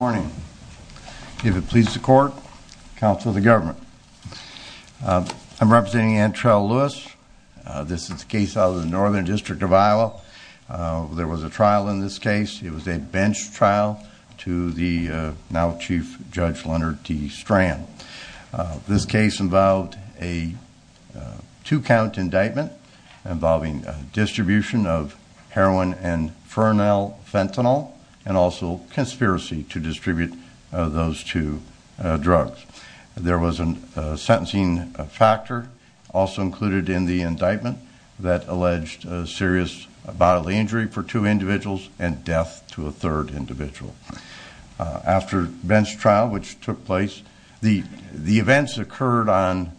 Good morning. If it pleases the court, counsel of the government. I'm representing Antrell Lewis. This is a case out of the Northern District of Iowa. There was a trial in this case. It was a bench trial to the now Chief Judge Leonard D. Strand. This case involved a two-count indictment involving distribution of heroin and frenel fentanyl and also conspiracy to distribute those two drugs. There was a sentencing factor also included in the indictment that alleged serious bodily injury for two individuals and death to a third individual. After bench trial, which took place, the events occurred on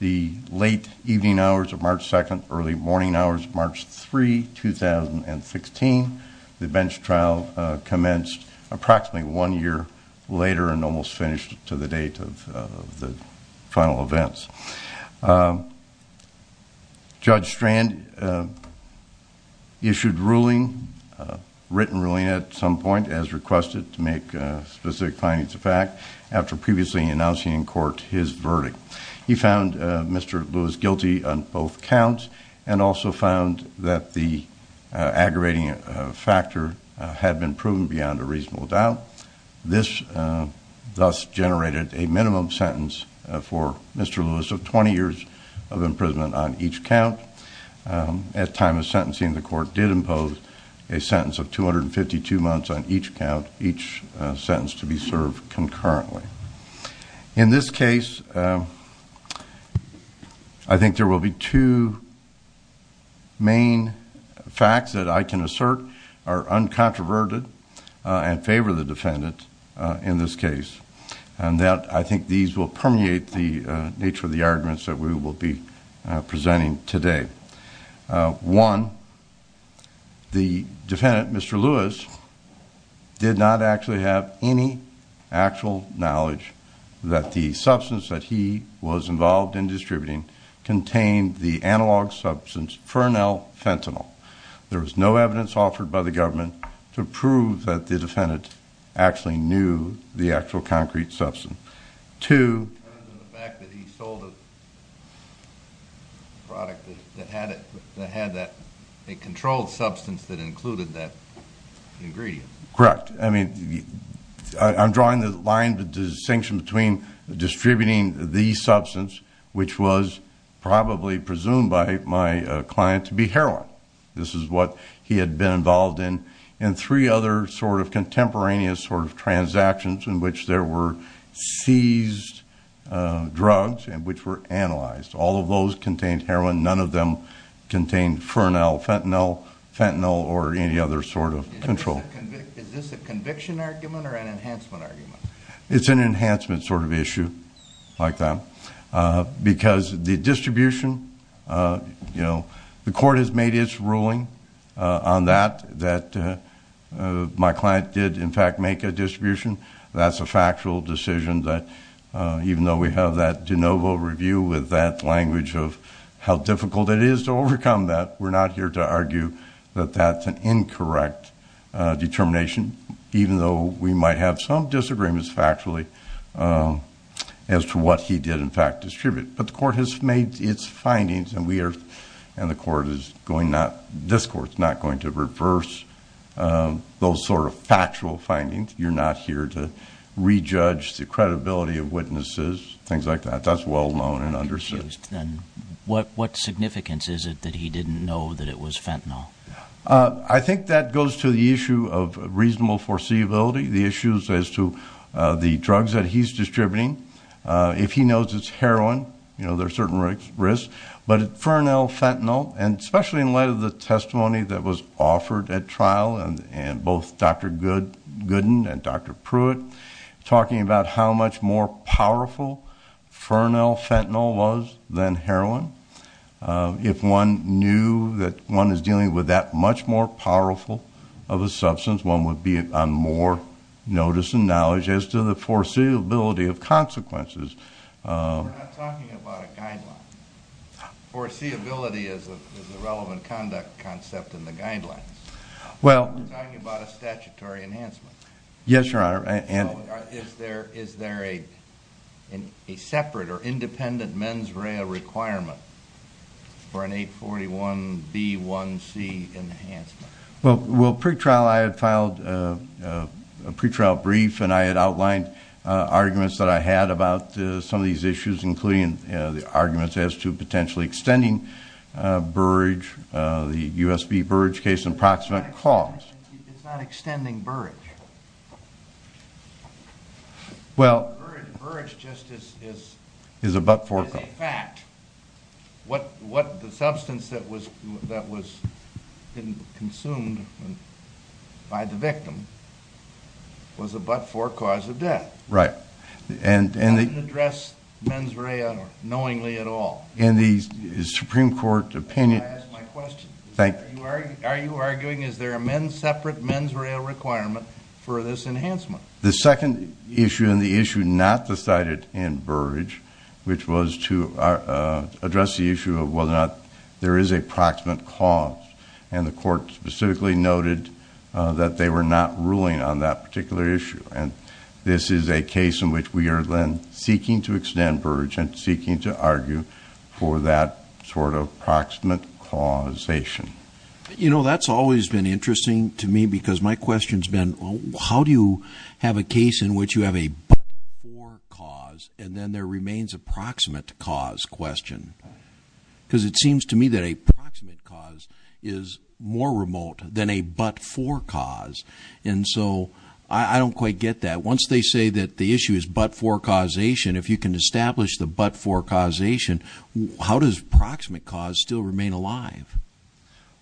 the late evening hours of March 2nd, early morning hours of March 3rd, 2016. The bench trial commenced approximately one year later and almost finished to the date of the final events. Judge Strand issued a written ruling at some point, as requested, to make specific findings of fact after previously announcing in court his verdict. He found Mr. Lewis guilty on both counts and also found that the aggravating factor had been proven beyond a reasonable doubt. This thus generated a minimum sentence for Mr. Lewis of 20 years of imprisonment on each count. At time of sentencing, the court did impose a sentence of 252 months on each count, each sentence to be served concurrently. In this case, I think there will be two main facts that I can assert are uncontroverted and favor the defendant in this case. I think these will permeate the nature of the arguments that we will be presenting today. One, the defendant, Mr. Lewis, did not actually have any actual knowledge that the substance that he was involved in distributing contained the analog substance fernal fentanyl. There was no evidence offered by the government to prove that the defendant actually knew the actual concrete substance. It depends on the fact that he sold a product that had a controlled substance that included that ingredient. Correct. I mean, I'm drawing the line, the distinction between distributing the substance, which was probably presumed by my client to be heroin. This is what he had been involved in, and three other sort of contemporaneous sort of transactions in which there were seized drugs and which were analyzed. All of those contained heroin. None of them contained fernal fentanyl or any other sort of control. Is this a conviction argument or an enhancement argument? It's an enhancement sort of issue like that because the distribution, you know, the court has made its ruling on that, that my client did in fact make a distribution. That's a factual decision that even though we have that de novo review with that language of how difficult it is to overcome that, we're not here to argue that that's an incorrect determination, even though we might have some disagreements factually as to what he did in fact distribute. But the court has made its findings, and we are, and the court is going not, this court's not going to reverse those sort of factual findings. You're not here to rejudge the credibility of witnesses, things like that. That's well known and understood. What significance is it that he didn't know that it was fentanyl? I think that goes to the issue of reasonable foreseeability, the issues as to the drugs that he's distributing. If he knows it's heroin, you know, there are certain risks. But fernal fentanyl, and especially in light of the testimony that was offered at trial, and both Dr. Gooden and Dr. Pruitt talking about how much more powerful fernal fentanyl was than heroin, if one knew that one is dealing with that much more powerful of a substance, one would be on more notice and knowledge as to the foreseeability of consequences. We're not talking about a guideline. Foreseeability is a relevant conduct concept in the guidelines. We're talking about a statutory enhancement. Yes, Your Honor. Is there a separate or independent mens rea requirement for an 841B1C enhancement? Well, pre-trial I had filed a pre-trial brief, and I had outlined arguments that I had about some of these issues, including the arguments as to potentially extending Burrage, the U.S.B. Burrage case in proximate cause. It's not extending Burrage. Burrage just is a fact. The substance that was consumed by the victim was a but-for cause of death. Right. It doesn't address mens rea knowingly at all. In the Supreme Court opinion— May I ask my question? Thank you. Are you arguing is there a separate mens rea requirement for this enhancement? The second issue and the issue not decided in Burrage, which was to address the issue of whether or not there is a proximate cause, and the court specifically noted that they were not ruling on that particular issue. And this is a case in which we are then seeking to extend Burrage and seeking to argue for that sort of proximate causation. You know, that's always been interesting to me because my question has been, how do you have a case in which you have a but-for cause, and then there remains a proximate cause question? Because it seems to me that a proximate cause is more remote than a but-for cause. And so I don't quite get that. Once they say that the issue is but-for causation, if you can establish the but-for causation, how does proximate cause still remain alive?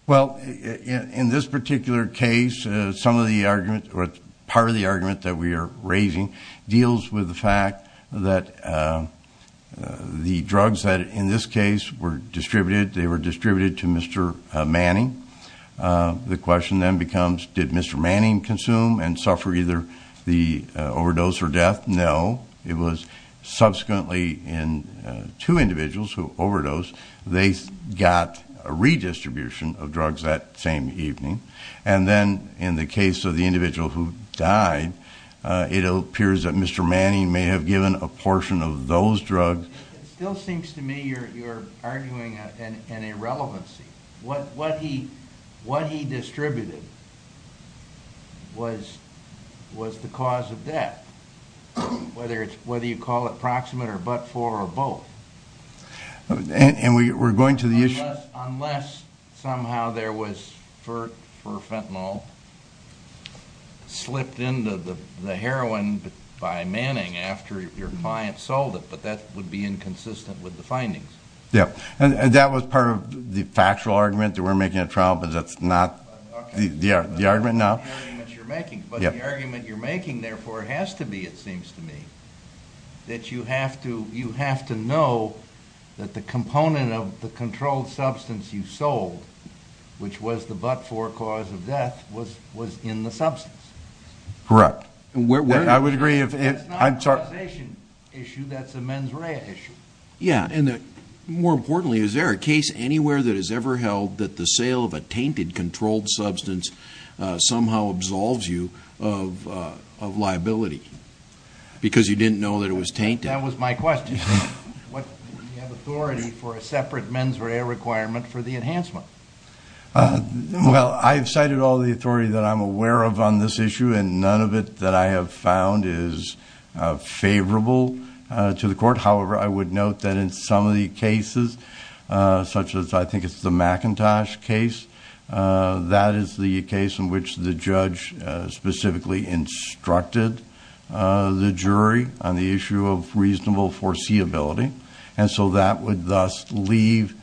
Well, in this particular case, some of the argument or part of the argument that we are raising deals with the fact that the drugs that in this case were distributed, they were distributed to Mr. Manning. The question then becomes, did Mr. Manning consume and suffer either the overdose or death? No. It was subsequently in two individuals who overdosed, they got a redistribution of drugs that same evening. And then in the case of the individual who died, it appears that Mr. Manning may have given a portion of those drugs. It still seems to me you're arguing an irrelevancy. What he distributed was the cause of death, whether you call it proximate or but-for or both. And we're going to the issue? Unless somehow there was, for fentanyl, slipped into the heroin by Manning after your client sold it, but that would be inconsistent with the findings. Yeah. And that was part of the factual argument that we're making at trial, but that's not the argument now. But the argument you're making, therefore, has to be, it seems to me, that you have to know that the component of the controlled substance you sold, which was the but-for cause of death, was in the substance. Correct. I would agree if... That's not a causation issue, that's a mens rea issue. Yeah, and more importantly, is there a case anywhere that has ever held that the sale of a tainted controlled substance somehow absolves you of liability because you didn't know that it was tainted? That was my question. Do you have authority for a separate mens rea requirement for the enhancement? Well, I've cited all the authority that I'm aware of on this issue, however, I would note that in some of the cases, such as I think it's the McIntosh case, that is the case in which the judge specifically instructed the jury on the issue of reasonable foreseeability, and so that would thus leave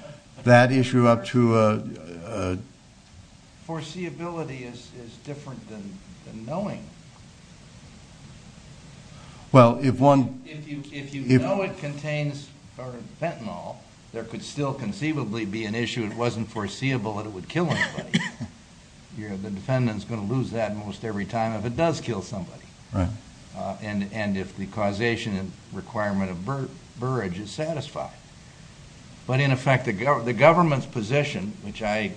that issue up to a... Foreseeability is different than knowing. Well, if one... If you know it contains fentanyl, there could still conceivably be an issue, it wasn't foreseeable that it would kill anybody. The defendant's going to lose that almost every time if it does kill somebody. Right. And if the causation requirement of burrage is satisfied. But in effect, the government's position, which I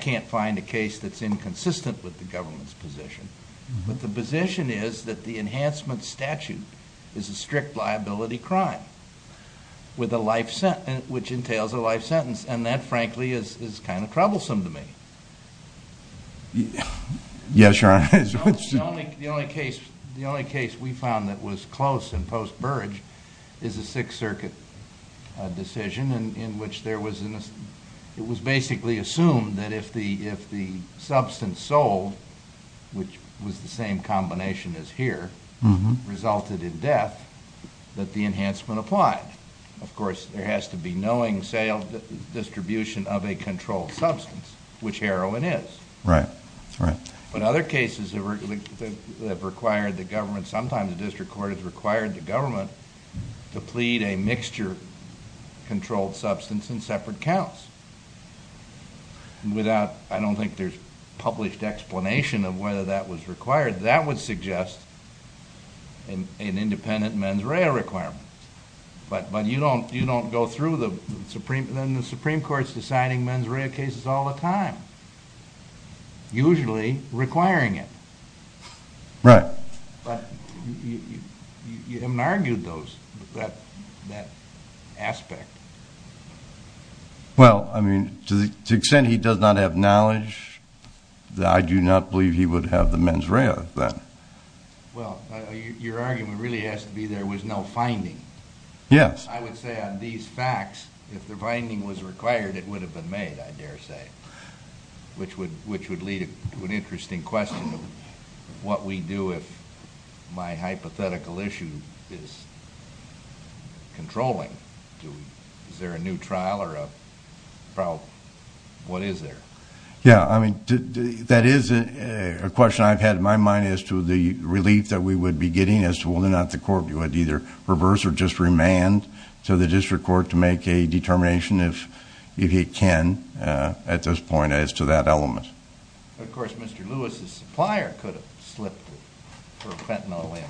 can't find a case that's inconsistent with the government's position, but the position is that the enhancement statute is a strict liability crime, which entails a life sentence, and that, frankly, is kind of troublesome to me. Yes, Your Honor. The only case we found that was close in post-burrage is a Sixth Circuit decision in which it was basically assumed that if the substance sold, which was the same combination as here, resulted in death, that the enhancement applied. Of course, there has to be knowing distribution of a controlled substance, which heroin is. Right, right. But other cases that required the government, to plead a mixture controlled substance in separate counts. I don't think there's published explanation of whether that was required. That would suggest an independent mens rea requirement. But you don't go through the Supreme Court's deciding mens rea cases all the time, usually requiring it. Right. But you haven't argued that aspect. Well, I mean, to the extent he does not have knowledge, I do not believe he would have the mens rea. Well, your argument really has to be there was no finding. Yes. I would say on these facts, if the finding was required, it would have been made, I dare say, which would lead to an interesting question of what we do if my hypothetical issue is controlling. Is there a new trial or what is there? Yes. That is a question I've had in my mind as to the relief that we would be getting as to whether or not the court would either reverse or just remand to the district court to make a determination if it can at this point as to that element. Of course, Mr. Lewis' supplier could have slipped for fentanyl in,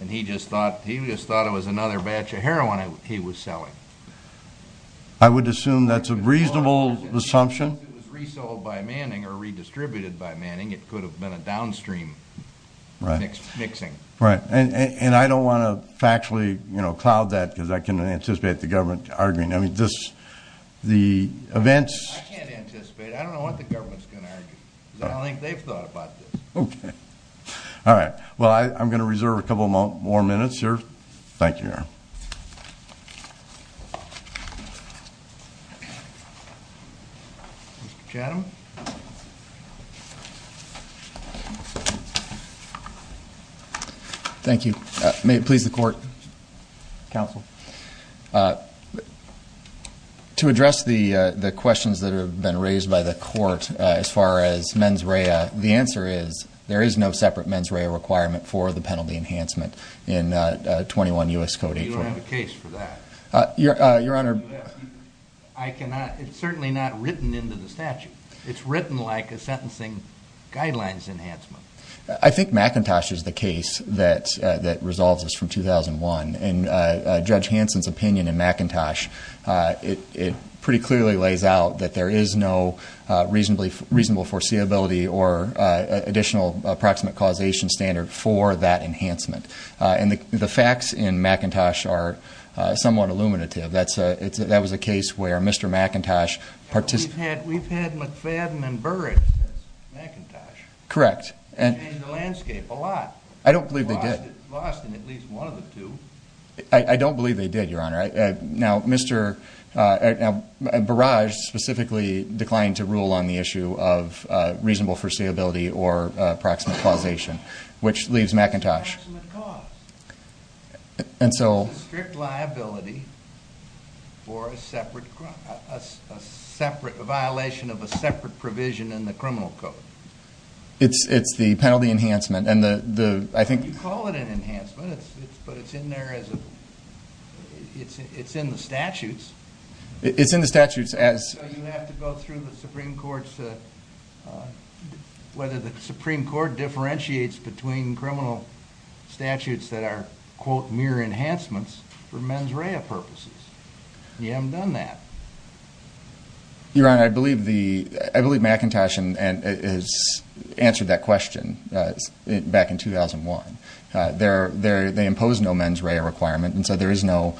and he just thought it was another batch of heroin he was selling. I would assume that's a reasonable assumption. If it was resold by Manning or redistributed by Manning, it could have been a downstream mixing. Right. And I don't want to factually cloud that because I can anticipate the government arguing. I mean, the events I can't anticipate it. I don't know what the government's going to argue because I don't think they've thought about this. Okay. All right. Well, I'm going to reserve a couple more minutes here. Thank you, Aaron. Mr. Chatham. Thank you. May it please the court? Counsel. To address the questions that have been raised by the court as far as mens rea, the answer is there is no separate mens rea requirement for the penalty enhancement in 21 U.S. Code 8.4. You don't have a case for that? Your Honor. I cannot. It's certainly not written into the statute. It's written like a sentencing guidelines enhancement. I think McIntosh is the case that resolves this from 2001. And Judge Hanson's opinion in McIntosh, it pretty clearly lays out that there is no reasonable foreseeability or additional approximate causation standard for that enhancement. And the facts in McIntosh are somewhat illuminative. That was a case where Mr. McIntosh participated. We've had McFadden and Burrage since McIntosh. Correct. Changed the landscape a lot. I don't believe they did. Lost in at least one of the two. I don't believe they did, Your Honor. Now, Burrage specifically declined to rule on the issue of reasonable foreseeability or approximate causation, which leaves McIntosh. Approximate cause. It's a strict liability for a separate violation of a separate provision in the criminal code. It's the penalty enhancement. You call it an enhancement, but it's in there as a, it's in the statutes. It's in the statutes as. So you have to go through the Supreme Court's, whether the Supreme Court differentiates between criminal statutes that are, quote, mere enhancements for mens rea purposes. You haven't done that. Your Honor, I believe McIntosh has answered that question back in 2001. They impose no mens rea requirement, and so there is no,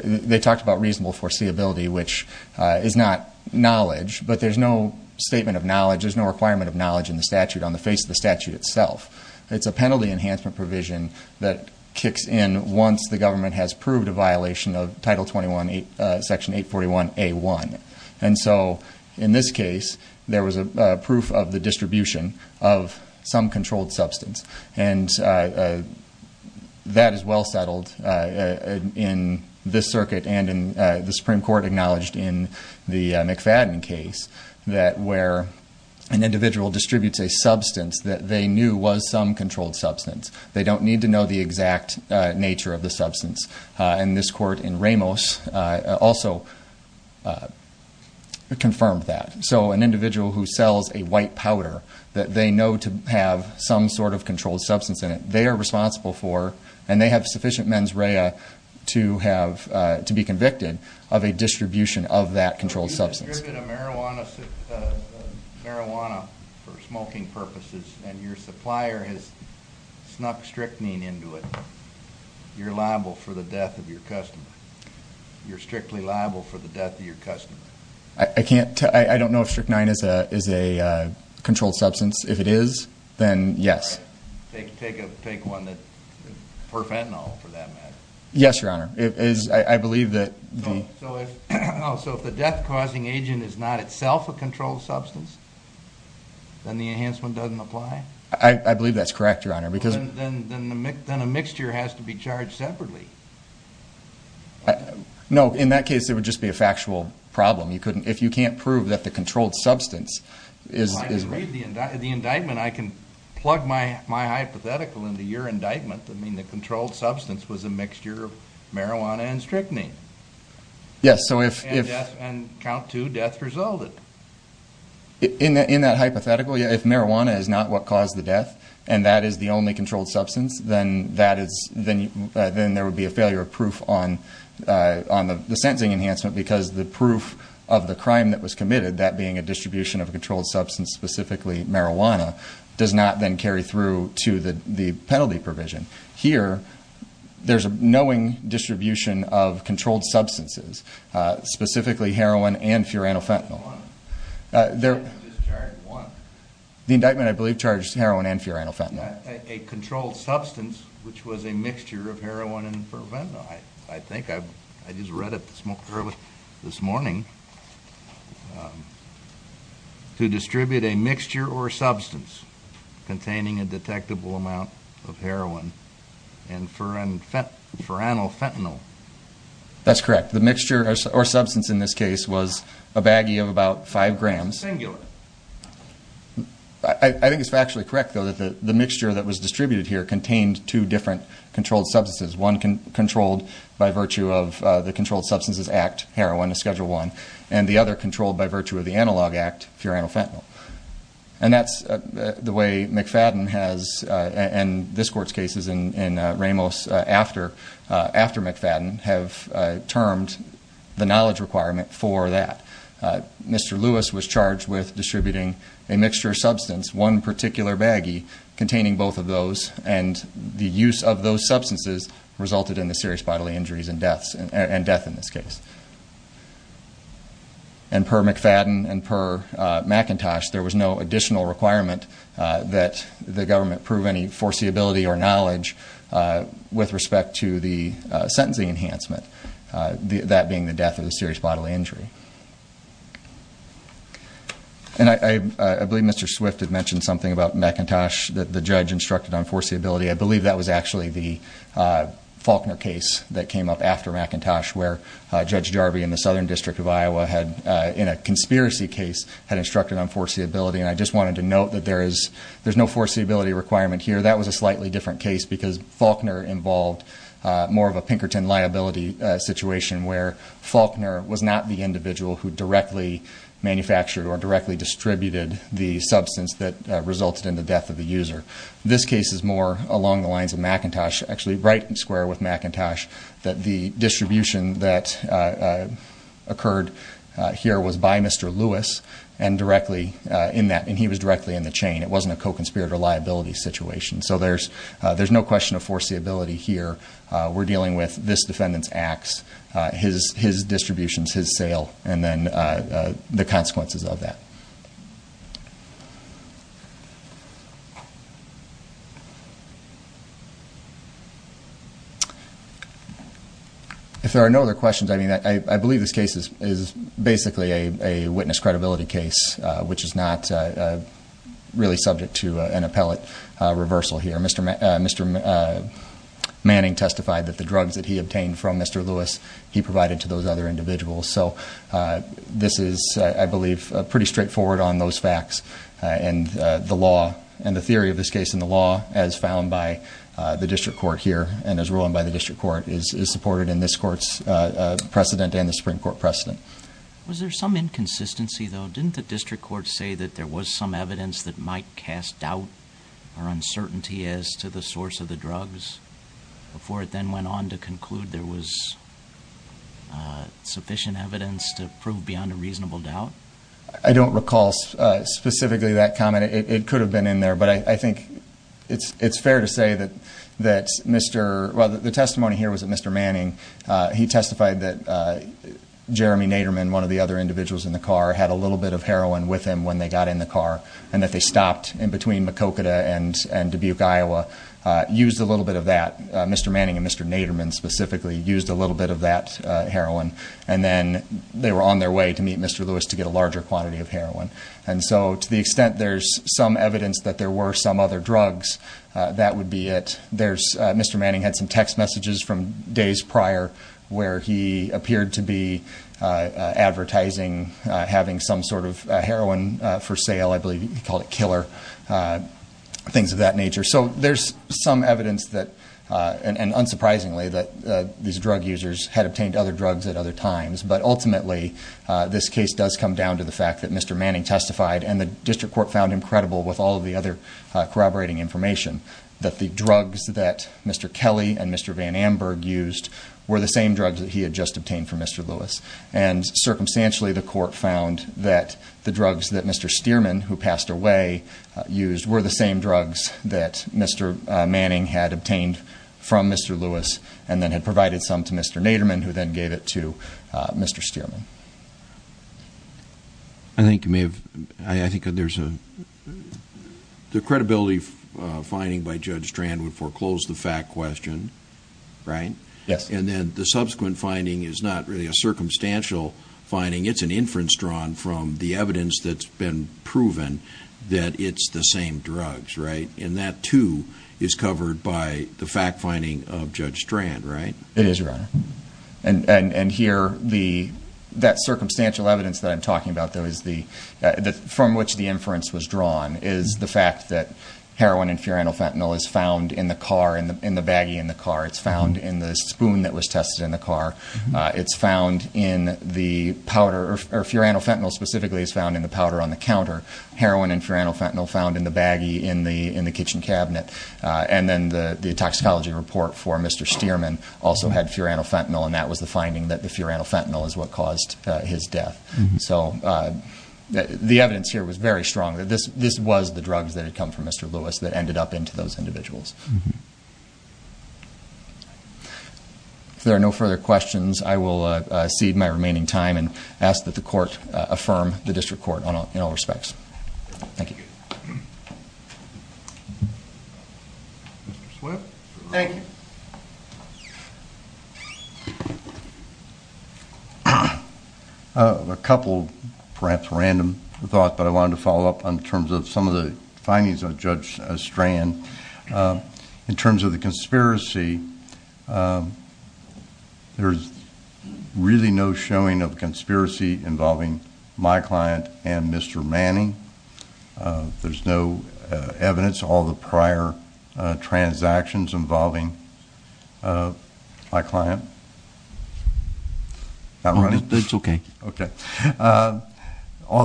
they talked about reasonable foreseeability, which is not knowledge, but there's no statement of knowledge, there's no requirement of knowledge in the statute on the face of the statute itself. It's a penalty enhancement provision that kicks in once the government has proved a violation of Title 21, Section 841A1. And so, in this case, there was a proof of the distribution of some controlled substance. And that is well settled in this circuit and in the Supreme Court acknowledged in the McFadden case, that where an individual distributes a substance that they knew was some controlled substance. They don't need to know the exact nature of the substance. And this court in Ramos also confirmed that. So an individual who sells a white powder that they know to have some sort of controlled substance in it, they are responsible for, and they have sufficient mens rea to be convicted of a distribution of that controlled substance. So if you've distributed a marijuana for smoking purposes and your supplier has snuck strychnine into it, you're liable for the death of your customer. You're strictly liable for the death of your customer. I don't know if strychnine is a controlled substance. If it is, then yes. All right. Take one for fentanyl for that matter. Yes, Your Honor. I believe that the... So if the death-causing agent is not itself a controlled substance, then the enhancement doesn't apply? I believe that's correct, Your Honor. Then a mixture has to be charged separately. No, in that case it would just be a factual problem. If you can't prove that the controlled substance is... Well, I can read the indictment. I can plug my hypothetical into your indictment. I mean, the controlled substance was a mixture of marijuana and strychnine. Yes, so if... And count two, death resulted. In that hypothetical, if marijuana is not what caused the death and that is the only controlled substance, then there would be a failure of proof on the sentencing enhancement because the proof of the crime that was committed, that being a distribution of a controlled substance, specifically marijuana, does not then carry through to the penalty provision. Here, there's a knowing distribution of controlled substances, specifically heroin and furanofentanyl. I just carried one. The indictment, I believe, charged heroin and furanofentanyl. A controlled substance, which was a mixture of heroin and furanofentanyl. I think I just read it this morning. To distribute a mixture or substance containing a detectable amount of heroin and furanofentanyl. That's correct. The mixture or substance in this case was a baggie of about 5 grams. Singular. I think it's factually correct, though, that the mixture that was distributed here contained two different controlled substances. One controlled by virtue of the Controlled Substances Act, heroin is Schedule 1, and the other controlled by virtue of the Analog Act, furanofentanyl. And that's the way McFadden has, and this court's cases in Ramos after McFadden, have termed the knowledge requirement for that. Mr. Lewis was charged with distributing a mixture or substance, one particular baggie, containing both of those, and the use of those substances resulted in the serious bodily injuries and deaths, and death in this case. And per McFadden and per McIntosh, there was no additional requirement that the government prove any foreseeability or knowledge with respect to the sentencing enhancement, that being the death or the serious bodily injury. And I believe Mr. Swift had mentioned something about McIntosh, that the judge instructed on foreseeability. I believe that was actually the Faulkner case that came up after McIntosh, where Judge Jarvey in the Southern District of Iowa, in a conspiracy case, had instructed on foreseeability, and I just wanted to note that there's no foreseeability requirement here. That was a slightly different case, because Faulkner involved more of a Pinkerton liability situation, where Faulkner was not the individual who directly manufactured or directly distributed the substance that resulted in the death of the user. This case is more along the lines of McIntosh, actually right square with McIntosh, that the distribution that occurred here was by Mr. Lewis, and he was directly in the chain. It wasn't a co-conspirator liability situation. So there's no question of foreseeability here. We're dealing with this defendant's acts, his distributions, his sale, and then the consequences of that. If there are no other questions, I believe this case is basically a witness credibility case, which is not really subject to an appellate reversal here. Mr. Manning testified that the drugs that he obtained from Mr. Lewis, he provided to those other individuals. So this is, I believe, pretty straightforward on those facts, and the theory of this case in the law, as found by the district court here, and as ruled by the district court, is supported in this court's precedent and the Supreme Court precedent. Was there some inconsistency, though? Didn't the district court say that there was some evidence that might cast doubt or uncertainty as to the source of the drugs before it then went on to conclude there was sufficient evidence to prove beyond a reasonable doubt? I don't recall specifically that comment. It could have been in there, but I think it's fair to say that Mr. – well, the testimony here was that Mr. Manning, he testified that Jeremy Naderman, one of the other individuals in the car, had a little bit of heroin with him when they got in the car and that they stopped in between Maquoketa and Dubuque, Iowa, used a little bit of that. Mr. Manning and Mr. Naderman specifically used a little bit of that heroin, and then they were on their way to meet Mr. Lewis to get a larger quantity of heroin. And so to the extent there's some evidence that there were some other drugs, that would be it. Mr. Manning had some text messages from days prior where he appeared to be advertising having some sort of heroin for sale. I believe he called it killer, things of that nature. So there's some evidence that, and unsurprisingly, that these drug users had obtained other drugs at other times. But ultimately, this case does come down to the fact that Mr. Manning testified and the district court found him credible with all of the other corroborating information that the drugs that Mr. Kelly and Mr. Van Amburg used were the same drugs that he had just obtained from Mr. Lewis. And circumstantially, the court found that the drugs that Mr. Stearman, who passed away, used were the same drugs that Mr. Manning had obtained from Mr. Lewis and then had provided some to Mr. Naderman, who then gave it to Mr. Stearman. I think you may have... I think there's a... The credibility finding by Judge Strand would foreclose the fact question, right? Yes. And then the subsequent finding is not really a circumstantial finding. It's an inference drawn from the evidence that's been proven that it's the same drugs, right? And that, too, is covered by the fact finding of Judge Strand, right? It is, Your Honor. And here, that circumstantial evidence that I'm talking about, from which the inference was drawn, is the fact that heroin and furanofentanyl is found in the car, in the baggie in the car. It's found in the spoon that was tested in the car. It's found in the powder. Furanofentanyl specifically is found in the powder on the counter. Heroin and furanofentanyl found in the baggie in the kitchen cabinet. And then the toxicology report for Mr. Stearman also had furanofentanyl, and that was the finding that the furanofentanyl is what caused his death. So the evidence here was very strong that this was the drugs that had come from Mr. Lewis that ended up into those individuals. If there are no further questions, I will cede my remaining time and ask that the Court affirm the District Court in all respects. Thank you. Mr. Swift. Thank you. A couple of perhaps random thoughts, but I wanted to follow up in terms of some of the findings of Judge Strand. In terms of the conspiracy, there's really no showing of conspiracy involving my client and Mr. Manning. There's no evidence of all the prior transactions involving my client. All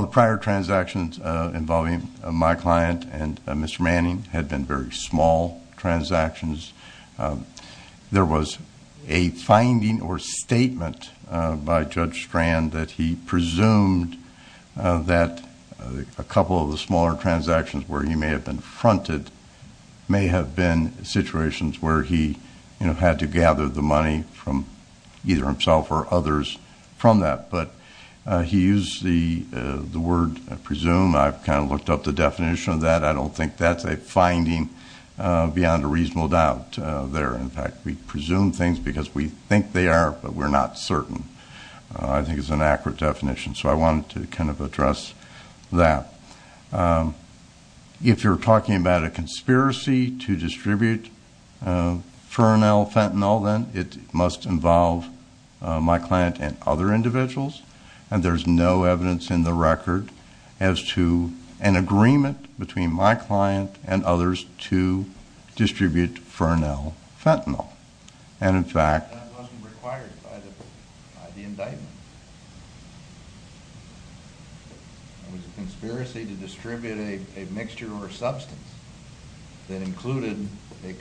the prior transactions involving my client and Mr. Manning had been very small transactions. There was a finding or statement by Judge Strand that he presumed that a couple of the smaller transactions where he may have been fronted may have been situations where he had to gather the money from either himself or others from that. But he used the word presume. I've kind of looked up the definition of that. I don't think that's a finding beyond a reasonable doubt there. In fact, we presume things because we think they are, but we're not certain. I think it's an accurate definition, so I wanted to kind of address that. If you're talking about a conspiracy to distribute Fernell Fentanyl, then it must involve my client and other individuals, and there's no evidence in the record as to an agreement between my client and others to distribute Fernell Fentanyl. That wasn't required by the indictment. It was a conspiracy to distribute a mixture or substance that included a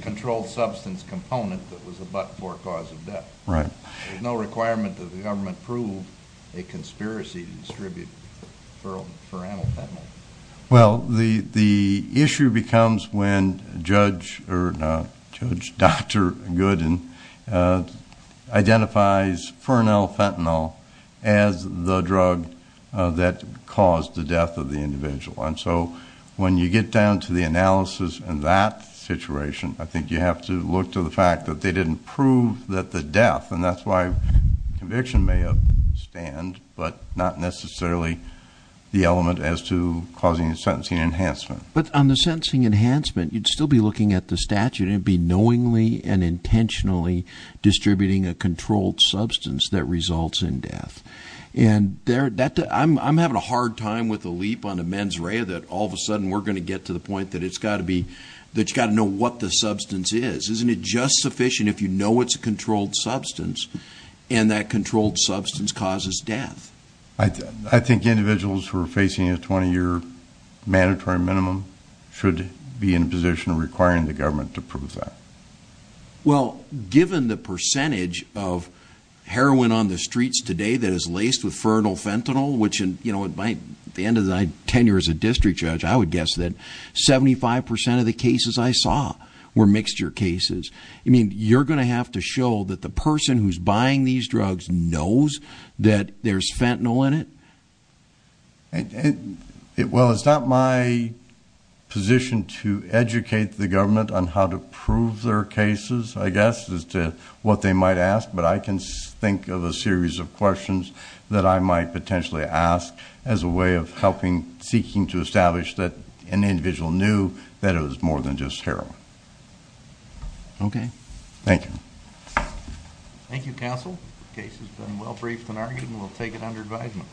controlled substance component that was a but-for cause of death. There's no requirement that the government prove a conspiracy to distribute Fernell Fentanyl. Well, the issue becomes when Judge Dr. Gooden identifies Fernell Fentanyl as the drug that caused the death of the individual. And so when you get down to the analysis in that situation, I think you have to look to the fact that they didn't prove that the death, and that's why conviction may upstand, but not necessarily the element as to causing a sentencing enhancement. But on the sentencing enhancement, you'd still be looking at the statute, and it'd be knowingly and intentionally distributing a controlled substance that results in death. And I'm having a hard time with the leap on the mens rea that all of a sudden we're going to get to the point that it's got to be, that you've got to know what the substance is. Isn't it just sufficient if you know it's a controlled substance and that controlled substance causes death? I think individuals who are facing a 20-year mandatory minimum should be in a position of requiring the government to prove that. Well, given the percentage of heroin on the streets today that is laced with Fernell Fentanyl, at the end of my tenure as a district judge, I would guess that 75% of the cases I saw were mixture cases. I mean, you're going to have to show that the person who's buying these drugs knows that there's Fentanyl in it? Well, it's not my position to educate the government on how to prove their cases, I guess, as to what they might ask, but I can think of a series of questions that I might potentially ask as a way of helping, seeking to establish that an individual knew that it was more than just heroin. Okay. Thank you. Thank you, counsel. The case has been well briefed and argued, and we'll take it under advisement.